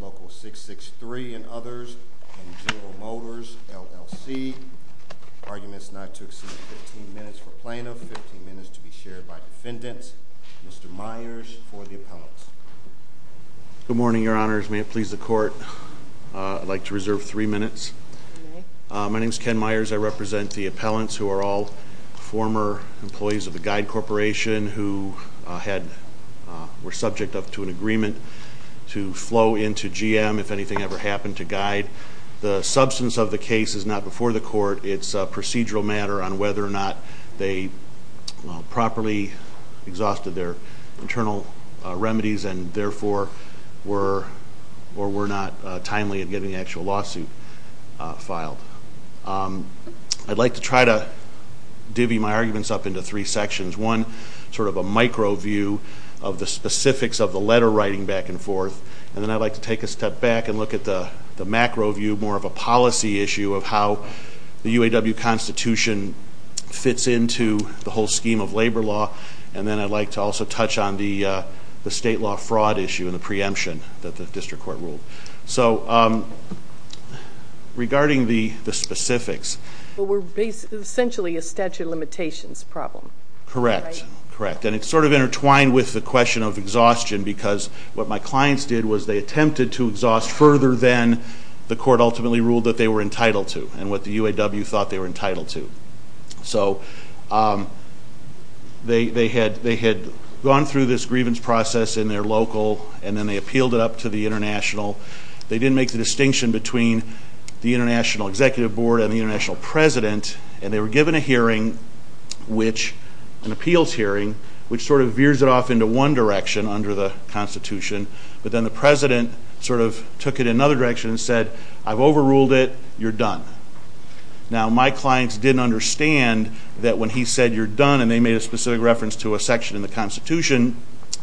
Local 663, and others, and General Motors, LLC, Arguments not to exceed 15 minutes for Plaintiff, 15 minutes to be shared by Defendants, Mr. Myers for the Appellants. Good morning, Your Honors. May it please the Court, I'd like to reserve three minutes. My name is Ken Myers. I represent the Appellants, who are all former employees of the Guide Corporation, who were subject to an agreement to flow into GM if anything ever happened to Guide. The substance of the case is not before the Court, it's a procedural matter on whether or not they properly exhausted their internal remedies and therefore were or were not timely in getting the actual lawsuit filed. I'd like to try to divvy my arguments up into three sections. One, sort of a micro view of the specifics of the letter writing back and forth, and then I'd like to take a step back and look at the macro view, more of a policy issue of how the UAW Constitution fits into the whole scheme of labor law, and then I'd like to also touch on the state law fraud issue and the preemption that the District Court ruled. So, regarding the specifics. Well, we're basically essentially a statute of limitations problem. Correct, correct, and it's sort of intertwined with the question of exhaustion, because what my clients did was they attempted to exhaust further than the Court ultimately ruled that they were entitled to, and what the Court ruled that they were entitled to. So, they had gone through this grievance process in their local, and then they appealed it up to the International. They didn't make the distinction between the International Executive Board and the International President, and they were given a hearing, which, an appeals hearing, which sort of veers it off into one direction under the Constitution, but then the President sort of took it in another direction and said, I've overruled it, you're done. Now, my clients didn't understand that when he said, you're done, and they made a specific reference to a section in the Constitution,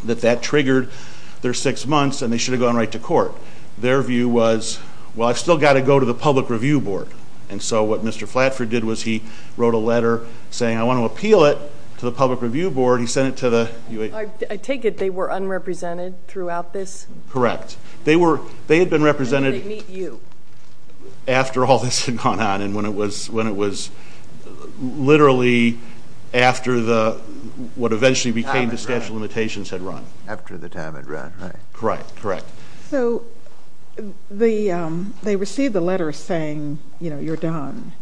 that that triggered their six months, and they should have gone right to court. Their view was, well, I've still got to go to the Public Review Board, and so what Mr. Flatford did was he wrote a letter saying, I want to appeal it to the Public Review Board. He sent it to the... I take it they were after all this had gone on, and when it was, when it was literally after the, what eventually became the statute of limitations had run. After the time had run, right. Correct, correct. So, they received the letter saying, you know, you're done.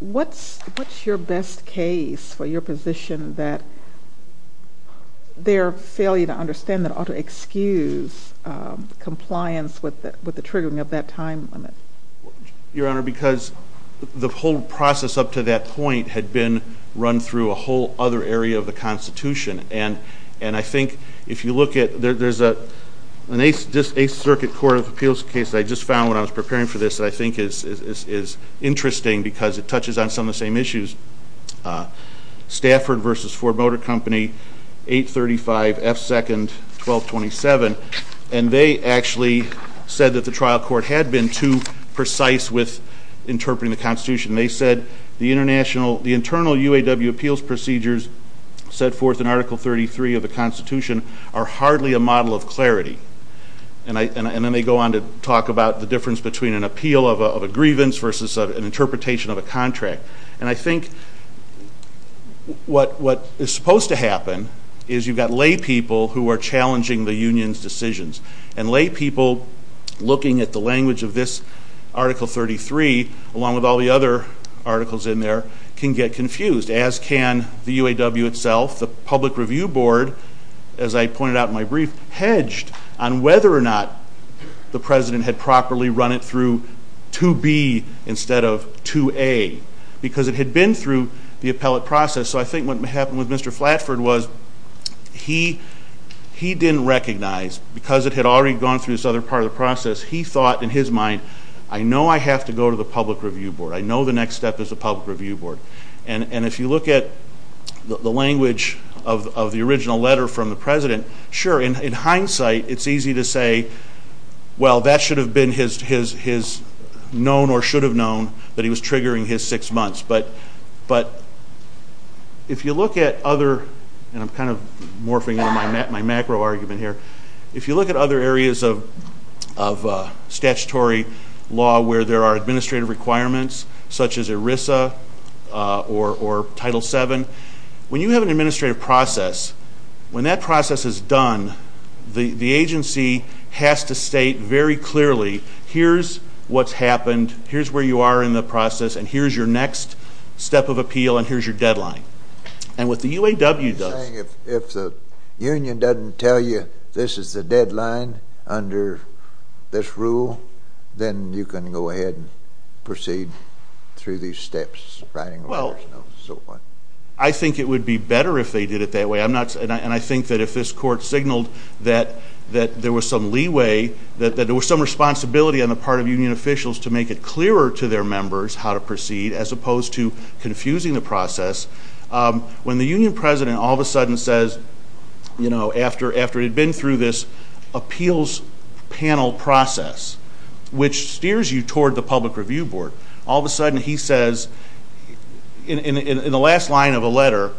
What's, what's your best case for your position that their failure to triggering of that time limit? Your Honor, because the whole process up to that point had been run through a whole other area of the Constitution, and, and I think if you look at, there's a, an Eighth Circuit Court of Appeals case I just found when I was preparing for this that I think is interesting because it touches on some of the same issues. Stafford versus Ford Motor Company, 835 F. 2nd 1227, and they actually said that the trial court had been too precise with interpreting the Constitution. They said the international, the internal UAW appeals procedures set forth in Article 33 of the Constitution are hardly a model of clarity, and I, and then they go on to talk about the difference between an appeal of a grievance versus an interpretation of a contract, and I think what, what is supposed to happen is you've got lay people who are challenging the Union's decisions, and lay people looking at the language of this Article 33, along with all the other articles in there, can get confused, as can the UAW itself. The Public Review Board, as I pointed out in my brief, hedged on whether or not the President had properly run it through 2B instead of 2A because it had been through the appellate process, so I think what happened with Mr. Flatford was he, he didn't recognize, because it had already gone through this other part of the process, he thought in his mind, I know I have to go to the Public Review Board, I know the next step is the Public Review Board, and, and if you look at the language of, of the original letter from the President, sure, in, in hindsight, it's easy to say, well, that should have been his, his, his known or should have known that he was triggering his six months, but, but if you look at other, and I'm kind of morphing into my macro argument here, if you look at other areas of, of statutory law where there are administrative requirements, such as ERISA or, or Title VII, when you have an administrative process, when that process is done, the, the agency has to state very clearly, here's what's are in the process, and here's your next step of appeal, and here's your deadline, and what the UAW does... You're saying if, if the union doesn't tell you this is the deadline under this rule, then you can go ahead and proceed through these steps, writing letters and so forth? Well, I think it would be better if they did it that way, I'm not, and I, and I think that if this court signaled that, that there was some leeway, that, that there was some responsibility on the part of union officials to make it clearer to their members how to proceed, as opposed to confusing the process, when the union president all of a sudden says, you know, after, after he'd been through this appeals panel process, which steers you toward the public review board, all of a sudden he says, in, in the last line of a letter,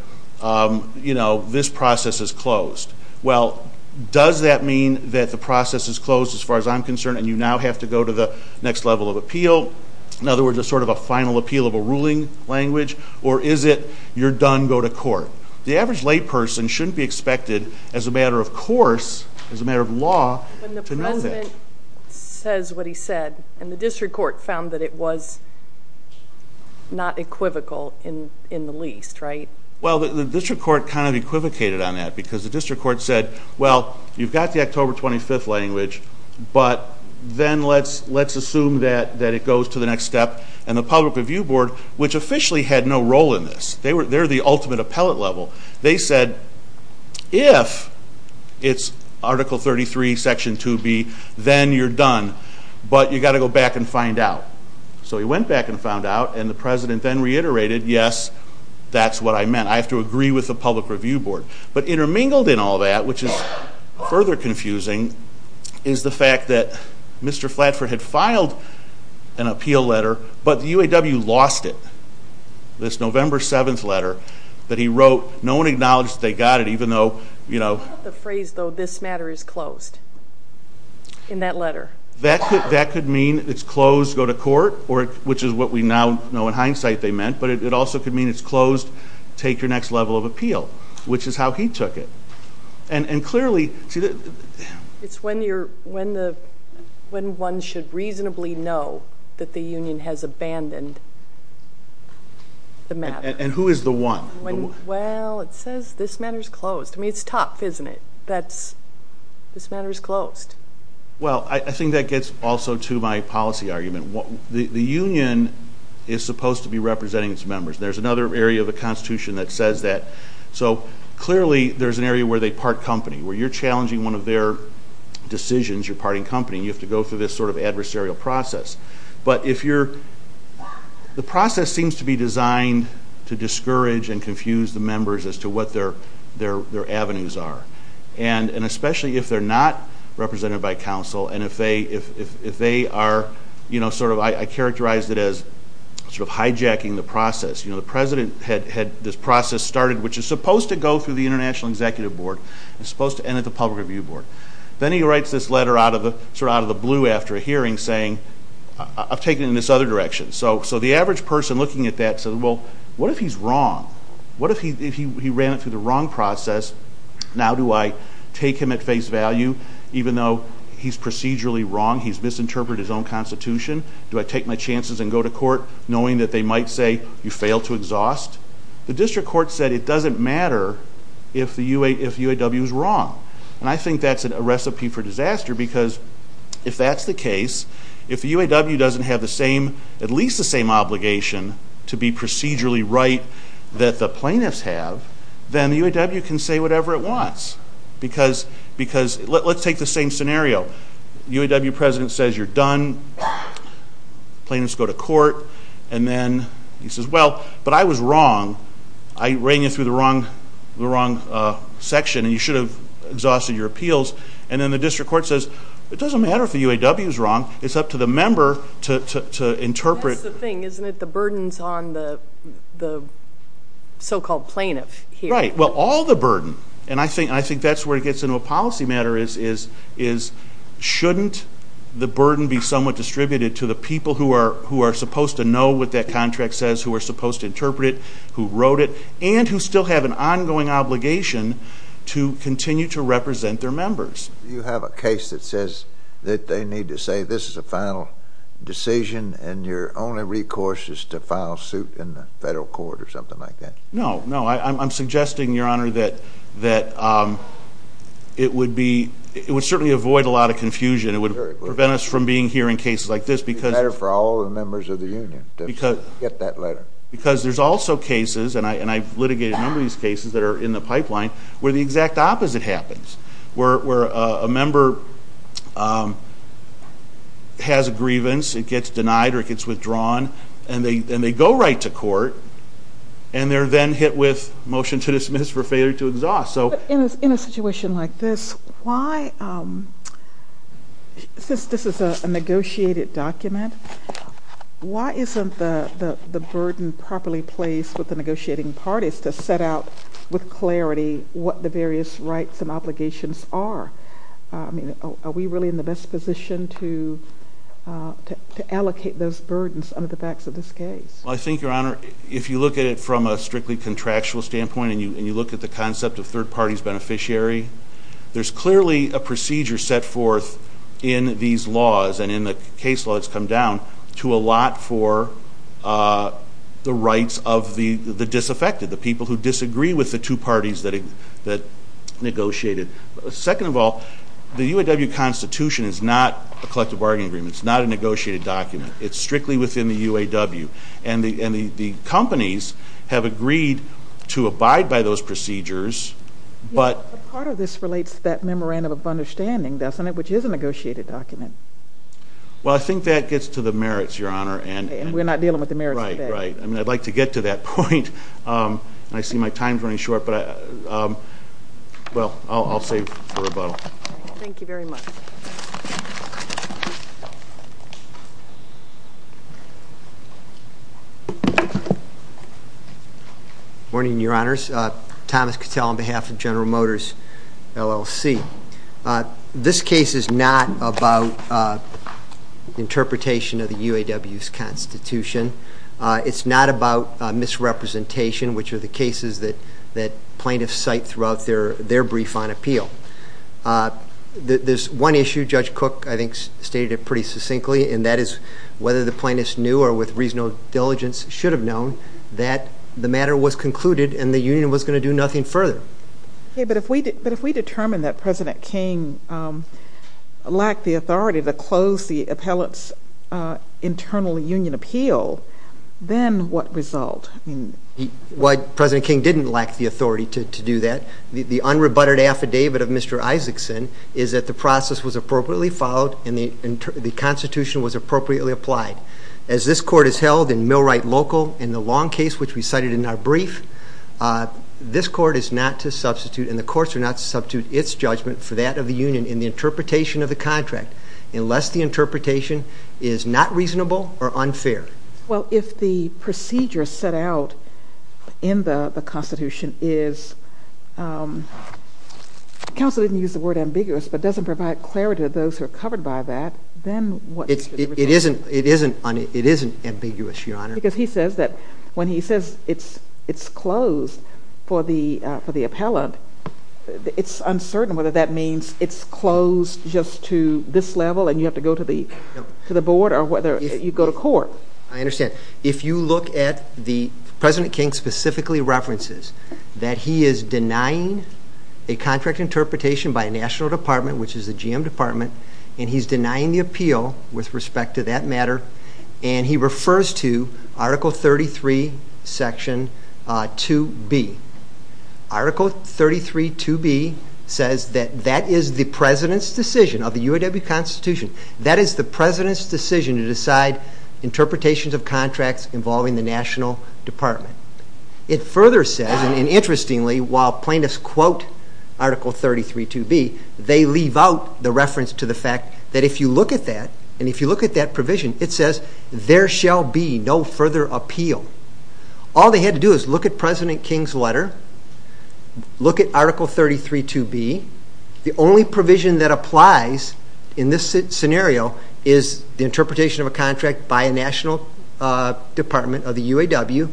you know, this process is closed. Well, does that mean that the process is closed as far as I'm concerned, and you now have to go to the next level of appeal, in other words, a sort of a final appeal of a ruling language, or is it, you're done, go to court? The average layperson shouldn't be expected, as a matter of course, as a matter of law, to know that. When the president says what he said, and the district court found that it was not equivocal in, in the least, right? Well, the district court kind of equivocated on that, because the district court said, well, you've got the October 25th language, but then let's, let's assume that, that it goes to the next step, and the public review board, which officially had no role in this, they were, they're the ultimate appellate level, they said, if it's Article 33, Section 2B, then you're done, but you got to go back and find out. So he went back and found out, and the president then reiterated, yes, that's what I meant, I have to agree with the public review board, but intermingled in all that, which is further confusing, is the fact that Mr. Flatford had filed an appeal letter, but the UAW lost it. This November 7th letter that he wrote, no one acknowledged they got it, even though, you know. The phrase, though, this matter is closed, in that letter. That could, that could mean it's closed, go to court, or, which is what we now know in hindsight they meant, but it also could mean it's closed, take your next level of appeal, which is how he took it, and clearly. It's when you're, when the, when one should reasonably know that the union has abandoned the matter. And who is the one? Well, it says this matter is closed. I mean, it's tough, isn't it? That's, this matter is closed. Well, I think that gets also to my policy argument. The union is supposed to be representing its members. There's another area of the Constitution that says that. So, clearly, there's an area where they part company, where you're challenging one of their decisions, you're parting company, you have to go through this sort of adversarial process, but if you're, the process seems to be designed to discourage and confuse the members as to what their avenues are, and especially if they're not represented by council, and if they are, you know, sort of, I characterize it as sort of had this process started, which is supposed to go through the International Executive Board, it's supposed to end at the Public Review Board. Then he writes this letter out of the, sort of, out of the blue after a hearing saying, I've taken it in this other direction. So, so the average person looking at that said, well, what if he's wrong? What if he, if he ran it through the wrong process? Now, do I take him at face value, even though he's procedurally wrong, he's misinterpreted his own Constitution? Do I take my chances and go to court knowing that they might say, you failed to exhaust? The district court said it doesn't matter if the UA, if the UAW is wrong, and I think that's a recipe for disaster, because if that's the case, if the UAW doesn't have the same, at least the same obligation to be procedurally right that the plaintiffs have, then the UAW can say whatever it wants, because, because, let's take the same scenario, UAW president says you're done, plaintiffs go to court, and then he says, well, but I was wrong. I ran you through the wrong, the wrong section, and you should have exhausted your appeals, and then the district court says, it doesn't matter if the UAW is wrong, it's up to the member to, to, to interpret. That's the thing, isn't it? The burdens on the, the so-called plaintiff here. Right, well, all the burden, and I think, I think that's where it gets into a policy matter is, is, is, shouldn't the burden be somewhat distributed to the people who are, who are supposed to know what that contract says, who are supposed to interpret it, who wrote it, and who still have an ongoing obligation to continue to represent their members? You have a case that says that they need to say, this is a final decision, and your only recourse is to file suit in the federal court, or something like that? No, no, I'm suggesting, your honor, that, that it would be, it would certainly avoid a lot of confusion, it would prevent us from being here in cases like this, because. It would be better for all the members of the union to get that letter. Because there's also cases, and I, and I've litigated a number of these cases that are in the pipeline, where the exact opposite happens. Where, where a member has a grievance, it gets denied, or it gets withdrawn, and they, and they go right to court, and they're then hit with motion to dismiss for failure to exhaust, so. In a situation like this, why, since this is a negotiated document, why isn't the, the, the burden properly placed with the negotiating parties to set out with clarity what the various rights and obligations are? I mean, are we really in the best position to, to allocate those burdens under the backs of this case? I think, your honor, if you look at it from a strictly contractual standpoint, and you, and you look at the concept of third party's beneficiary, there's clearly a procedure set forth in these laws, and in the case law that's come down, to allot for the rights of the, the disaffected, the people who disagree with the two parties that, that negotiated. Second of all, the UAW Constitution is not a collective bargaining agreement. It's not a negotiated document. It's strictly within the UAW, and the, and the, the companies have agreed to abide by those procedures, but. Yeah, but part of this relates to that memorandum of understanding, doesn't it, which is a negotiated document. Well, I think that gets to the merits, your honor, and. And we're not dealing with the merits of that. Right, right. I mean, I'd like to get to that point, and I see my time's running short, but I, well, I'll, I'll save for rebuttal. Thank you very much. Morning, your honors. Thomas Cattell on behalf of General Motors, LLC. This case is not about interpretation of the UAW's Constitution. It's not about misrepresentation, which are the cases that, that plaintiffs cite throughout their, their brief on appeal. There's one issue, Judge Cook, I think, stated it pretty succinctly, and that is whether the plaintiffs knew, or with reasonable diligence, should have known, that the matter was concluded, and the union was going to do nothing further. Okay, but if we, but if we determine that President King lacked the authority to close the appellant's internal union appeal, then what result? I mean. Why President King didn't lack the authority to do that. The unrebutted affidavit of Mr. Isaacson is that the process was appropriately followed, and the, the Constitution was appropriately applied. As this court is held in Millwright Local, in the long case which we cited in our brief, this court is not to substitute, and the courts are not to substitute, its judgment for that of the union in the interpretation of the contract, unless the interpretation is not reasonable or unfair. Well, if the procedure set out in the Constitution is, counsel didn't use the word ambiguous, but doesn't provide clarity to those who are covered by that, then what? It isn't, it isn't, it isn't ambiguous, Your Honor. Because he says that when he says it's, it's closed for the, for the appellant, it's uncertain whether that means it's closed just to this level, and you have to go to the, to the board, or whether you go to court. I understand. If you look at the, President King specifically references that he is denying a contract interpretation by a national department, which is the Department, and he's denying the appeal with respect to that matter, and he refers to Article 33, Section 2B. Article 33, 2B, says that that is the President's decision of the UAW Constitution, that is the President's decision to decide interpretations of contracts involving the National Department. It further says, and interestingly, while plaintiffs quote Article 33, 2B, they leave out the reference to the fact that if you look at that, and if you look at that provision, it says, there shall be no further appeal. All they had to do is look at President King's letter, look at Article 33, 2B, the only provision that applies in this scenario is the interpretation of a contract by a National Department of the UAW,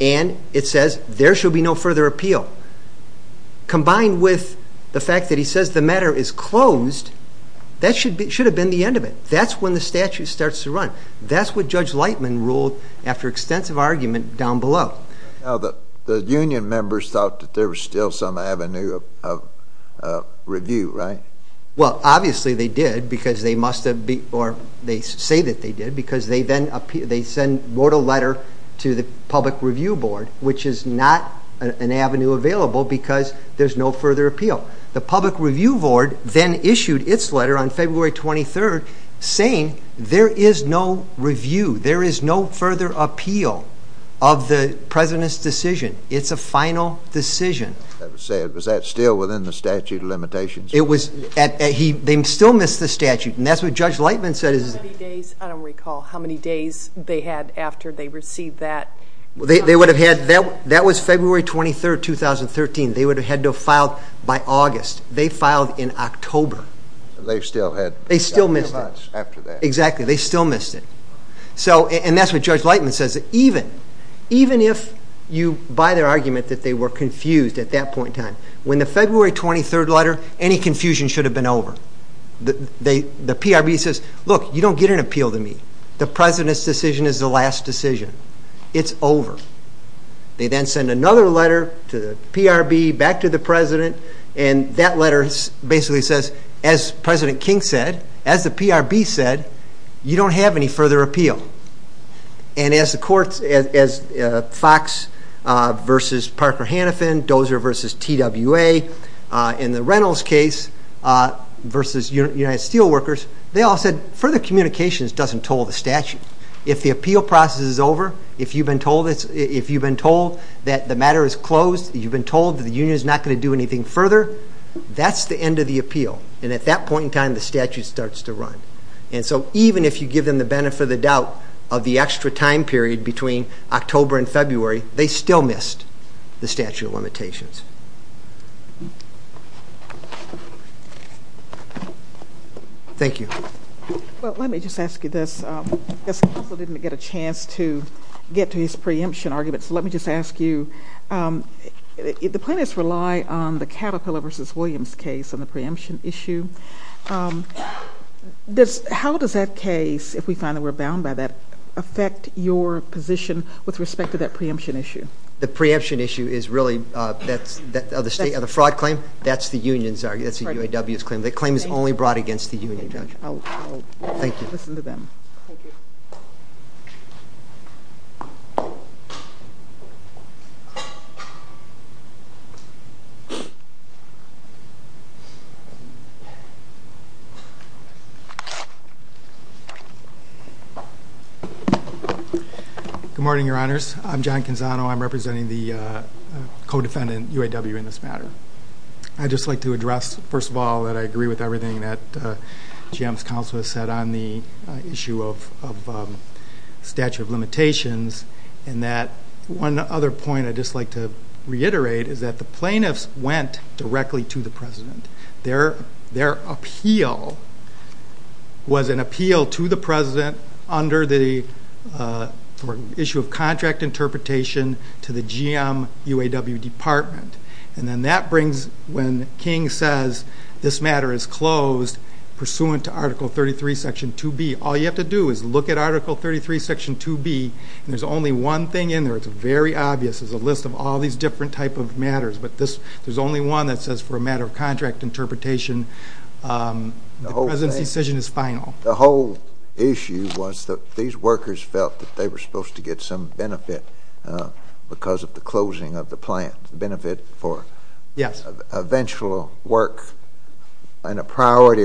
and it says, there shall be no further appeal. Combined with the fact that he says the matter is closed, that should be, should have been the end of it. That's when the statute starts to run. That's what Judge Lightman ruled after extensive argument down below. Now, the union members thought that there was still some avenue of review, right? Well, obviously they did, because they must have been, or they say that they did, because they then, they sent, wrote a letter to the Public Review Board, which is not an avenue available, because there's no further appeal. The Public Review Board then issued its letter on February 23rd, saying there is no review, there is no further appeal of the President's decision. It's a final decision. That was said, was that still within the statute limitations? It was, he, they still missed the statute, and that's what Judge Lightman said. How many days, I don't recall, how many days they had after they received that? Well, they would have had, that was February 23rd, 2013. They would have had to have filed by August. They filed in October. They still had, they still missed it. Exactly, they still missed it. So, and that's what Judge Lightman says, that even, even if you buy their argument that they were confused at that point in time, when the February 23rd letter, any confusion should have been over. The PRB says, look, you don't get an appeal to me. The it's over. They then send another letter to the PRB, back to the President, and that letter basically says, as President King said, as the PRB said, you don't have any further appeal. And as the courts, as Fox versus Parker Hannafin, Dozer versus TWA, in the Reynolds case versus United Steelworkers, they all said further communications doesn't toll the statute. If the appeal process is over, if you've been told it's, if you've been told that the matter is closed, you've been told that the union is not going to do anything further, that's the end of the appeal. And at that point in time, the statute starts to run. And so, even if you give them the benefit of the doubt of the extra time period between October and February, they still missed the statute of limitations. Thank you. Well, let me just ask you this. I also didn't get a chance to get to his preemption argument, so let me just ask you, the plaintiffs rely on the Caterpillar versus Williams case on the preemption issue. Does, how does that case, if we respect to that preemption issue? The preemption issue is really, that's, of the state, of the fraud claim, that's the union's argument, that's the UAW's claim. The claim is only brought against the union, Judge. Thank you. Good morning, Your Honors. I'm John Canzano. I'm representing the co-defendant, UAW, in this matter. I'd just like to address, first of all, that I agree with everything that GM's counsel has said on the issue of statute of limitations, and that one other point I'd just like to reiterate is that the plaintiffs went directly to the President. Their appeal was an appeal to the President under the issue of contract interpretation to the GM UAW Department. And then that brings, when King says this matter is closed pursuant to Article 33, Section 2B, all you have to do is look at Article 33, Section 2B, and there's only one thing in there, it's very obvious, is a list of all these different type of matters, but this, there's only one that says for a matter of contract interpretation, the President's decision is final. The whole issue was that these workers felt that they were supposed to get some benefit because of the priority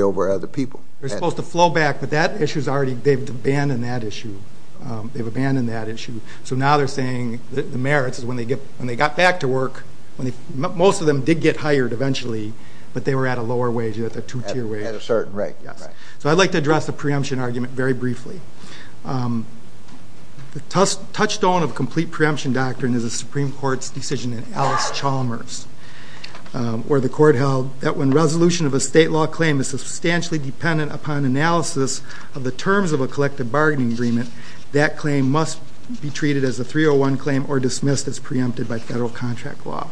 over other people. They're supposed to flow back, but that issue's already, they've abandoned that issue. They've abandoned that issue. So now they're saying the merits is when they get, when they got back to work, when they, most of them did get hired eventually, but they were at a lower wage, at a two-tier wage. At a certain rate. Yes. So I'd like to address the preemption argument very briefly. The touchstone of complete preemption doctrine is a Supreme Court's decision in Alice Chalmers, where the court held that when resolution of a state law claim is substantially dependent upon analysis of the terms of a collective bargaining agreement, that claim must be treated as a 301 claim or dismissed as preempted by federal contract law.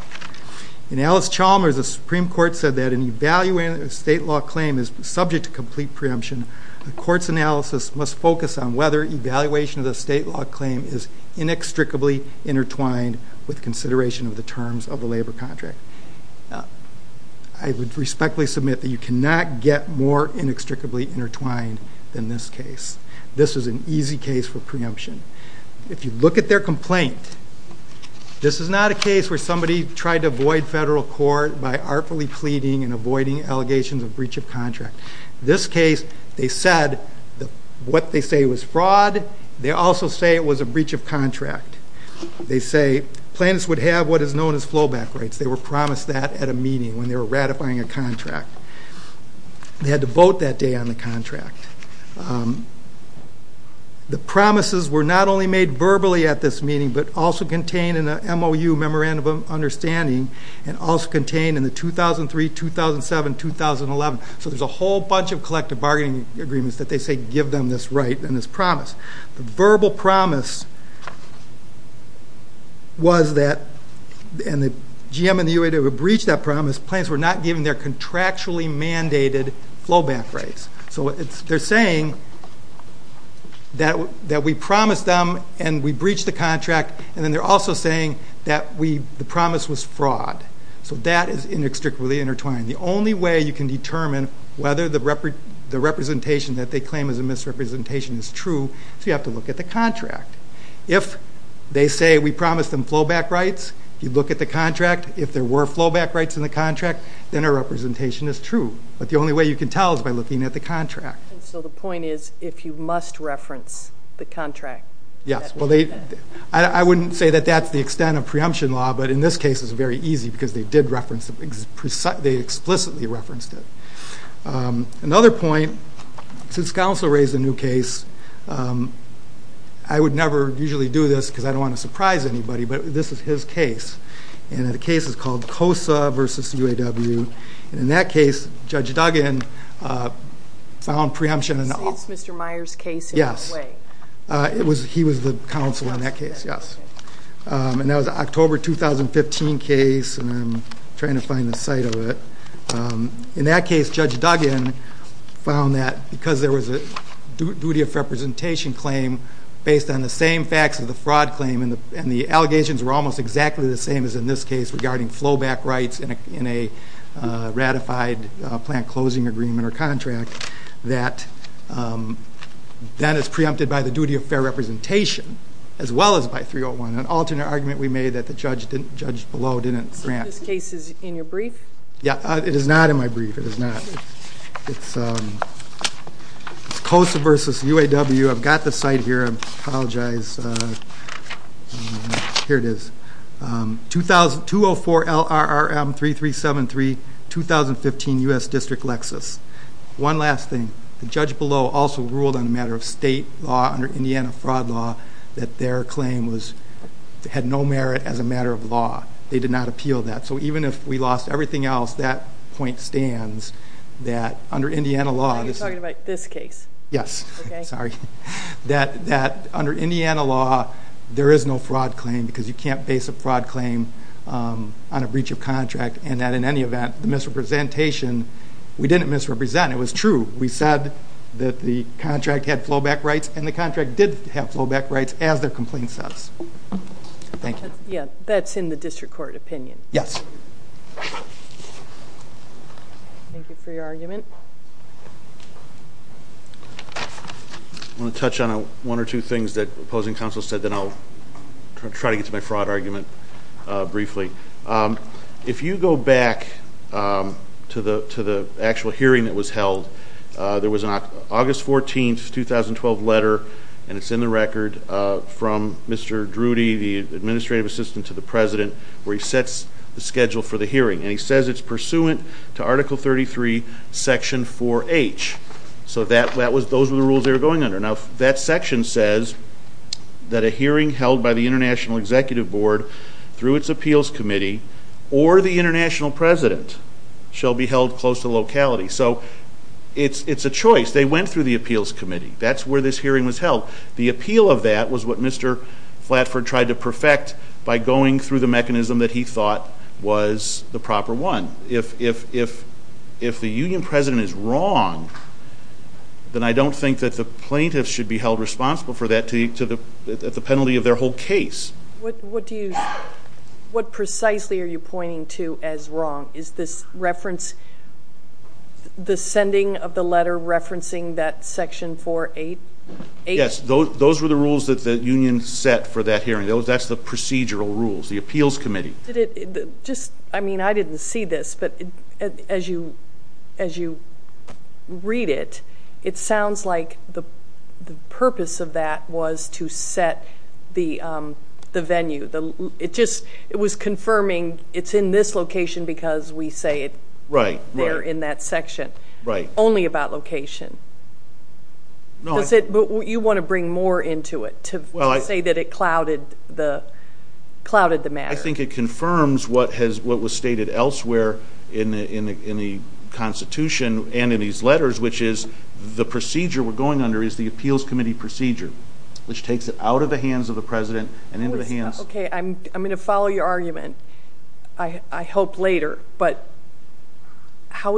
In Alice Chalmers, the Supreme Court said that in evaluating a state law claim is subject to complete preemption, the court's analysis must focus on whether evaluation of the state law claim is inextricably intertwined with consideration of the terms of the labor contract. I would respectfully submit that you cannot get more inextricably intertwined than this case. This is an easy case for preemption. If you look at their complaint, this is not a case where somebody tried to avoid federal court by artfully pleading and avoiding allegations of breach of contract. This case, they said, what they say was fraud, they also say it was a breach of contract. They say, plaintiffs would have what is known as flowback rights. They were promised that at a meeting when they were ratifying a contract. They had to vote that day on the contract. The promises were not only made verbally at this meeting, but also contained in the MOU, memorandum of understanding, and also contained in the 2003, 2007, 2011. So there's a whole bunch of collective bargaining agreements that they say give them this right and this promise. The verbal promise was that, and the GM and the UA would have breached that promise, plaintiffs were not given their contractually mandated flowback rights. So they're saying that we promised them and we breached the contract, and then they're also saying that the promise was fraud. So that is inextricably intertwined. The only way you can determine whether the representation that they claim is a misrepresentation is true, so you have to look at the contract. If they say we promised them flowback rights, you look at the contract. If there were flowback rights in the contract, then a representation is true. But the only way you can tell is by looking at the contract. And so the point is, if you must reference the contract, that's what you do. I wouldn't say that that's the extent of preemption law, but in this case it's very easy because they explicitly referenced it. Another point, since counsel raised a new case, I would never usually do this because I don't want to surprise anybody, but this is his case, and the case is called COSA v. UAW, and in that case, Judge Duggan found preemption in all... And that was an October 2015 case, and I'm trying to find the site of it. In that case, Judge Duggan found that because there was a duty of representation claim based on the same facts of the fraud claim, and the allegations were almost exactly the same as in this case regarding flowback rights in a ratified plant closing agreement or contract, that then it's preempted by the duty of fair representation, as well as by 301, an alternate argument we made that Judge Below didn't grant. So this case is in your brief? Yeah, it is not in my brief. It is not. It's COSA v. UAW. I've got the site here. I apologize. Here it is. 204 LRRM 3373, 2015 U.S. District, Lexis. One last thing. Judge Below also ruled on a matter of state law under Indiana fraud law that their claim had no merit as a matter of law. They did not appeal that. So even if we lost everything else, that point stands that under Indiana law... Are you talking about this case? Yes. Sorry. That under Indiana law, there is no fraud claim because you can't base a fraud claim on a breach of contract, and that in any event, the misrepresentation, we didn't misrepresent. It was true. We said that the contract had flowback rights, and the contract did have flowback rights as their complaint says. Thank you. Yeah, that's in the district court opinion. Yes. Thank you for your argument. I want to touch on one or two things that opposing counsel said, then I'll try to get to my fraud argument briefly. If you go back to the actual hearing that was held, there was an August 14, 2012 letter, and it's in the record, from Mr. Drudy, the administrative assistant to the president, where he sets the schedule for the hearing, and he says it's pursuant to Article 33, Section 4H. So those were the rules they were going under. Now, that section says that a hearing held by the International Executive Board through its appeals committee, or the international president, shall be held close to locality. So, it's a choice. They went through the appeals committee. That's where this hearing was held. The appeal of that was what Mr. Flatford tried to perfect by going through the mechanism that he thought was the proper one. If the union president is wrong, then I don't think that the plaintiffs should be held responsible for that at the penalty of their whole case. What precisely are you pointing to as wrong? Is this reference, the sending of the letter referencing that Section 4H? Yes, those were the rules that the union set for that hearing. That's the procedural rules, the appeals committee. I didn't see this, but as you read it, it sounds like the purpose of that was to set the venue. It was confirming it's in this location because we say it's there in that section. Right. Only about location. No. You want to bring more into it to say that it clouded the matter. I think it confirms what was stated elsewhere in the Constitution and in these letters, which is the procedure we're going under is the appeals committee procedure, which takes it out of the hands of the president and into the hands... Okay, I'm going to follow your argument, I hope later, but how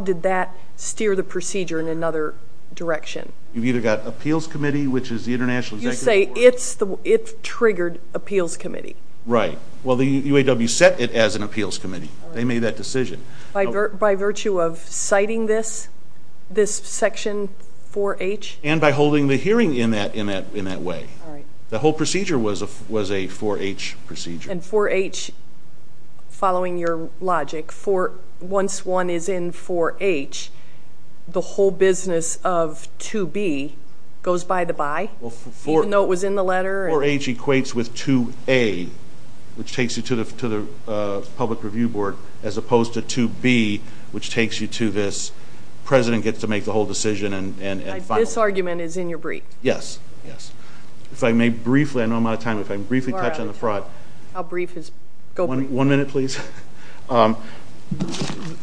did that steer the procedure in another direction? You've either got appeals committee, which is the international executive board... You say it's triggered appeals committee. Right. Well, the UAW set it as an appeals committee. They made that decision. By virtue of citing this Section 4H? And by holding the hearing in that way. The whole procedure was a 4H procedure. And 4H, following your logic, once one is in 4H, the whole business of 2B goes by the by, even though it was in the letter? 4H equates with 2A, which takes you to the public review board, as opposed to 2B, which takes you to this. The president gets to make the whole decision and follow it. This argument is in your brief? Yes. Yes. If I may briefly, I know I'm out of time, but if I may briefly touch on the fraud... I'll brief his... One minute, please.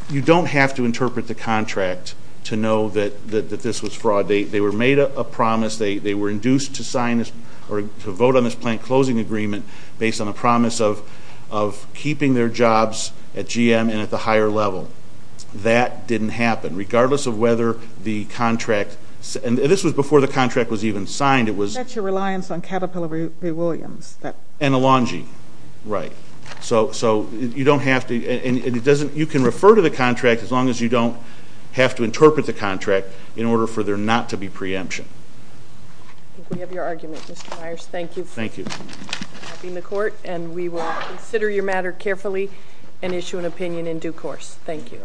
You don't have to interpret the contract to know that this was fraud. They were made a promise. They were induced to vote on this plant closing agreement based on a promise of keeping their jobs at GM and at the higher level. That didn't happen, regardless of whether the contract... And this was before the contract was even signed. That's your reliance on Caterpillar v. Williams. And Elanji. Right. So you don't have to... You can refer to the contract as long as you don't have to interpret the contract in order for there not to be preemption. I think we have your argument, Mr. Myers. Thank you for helping the court. And we will consider your matter carefully and issue an opinion in due course. Thank you.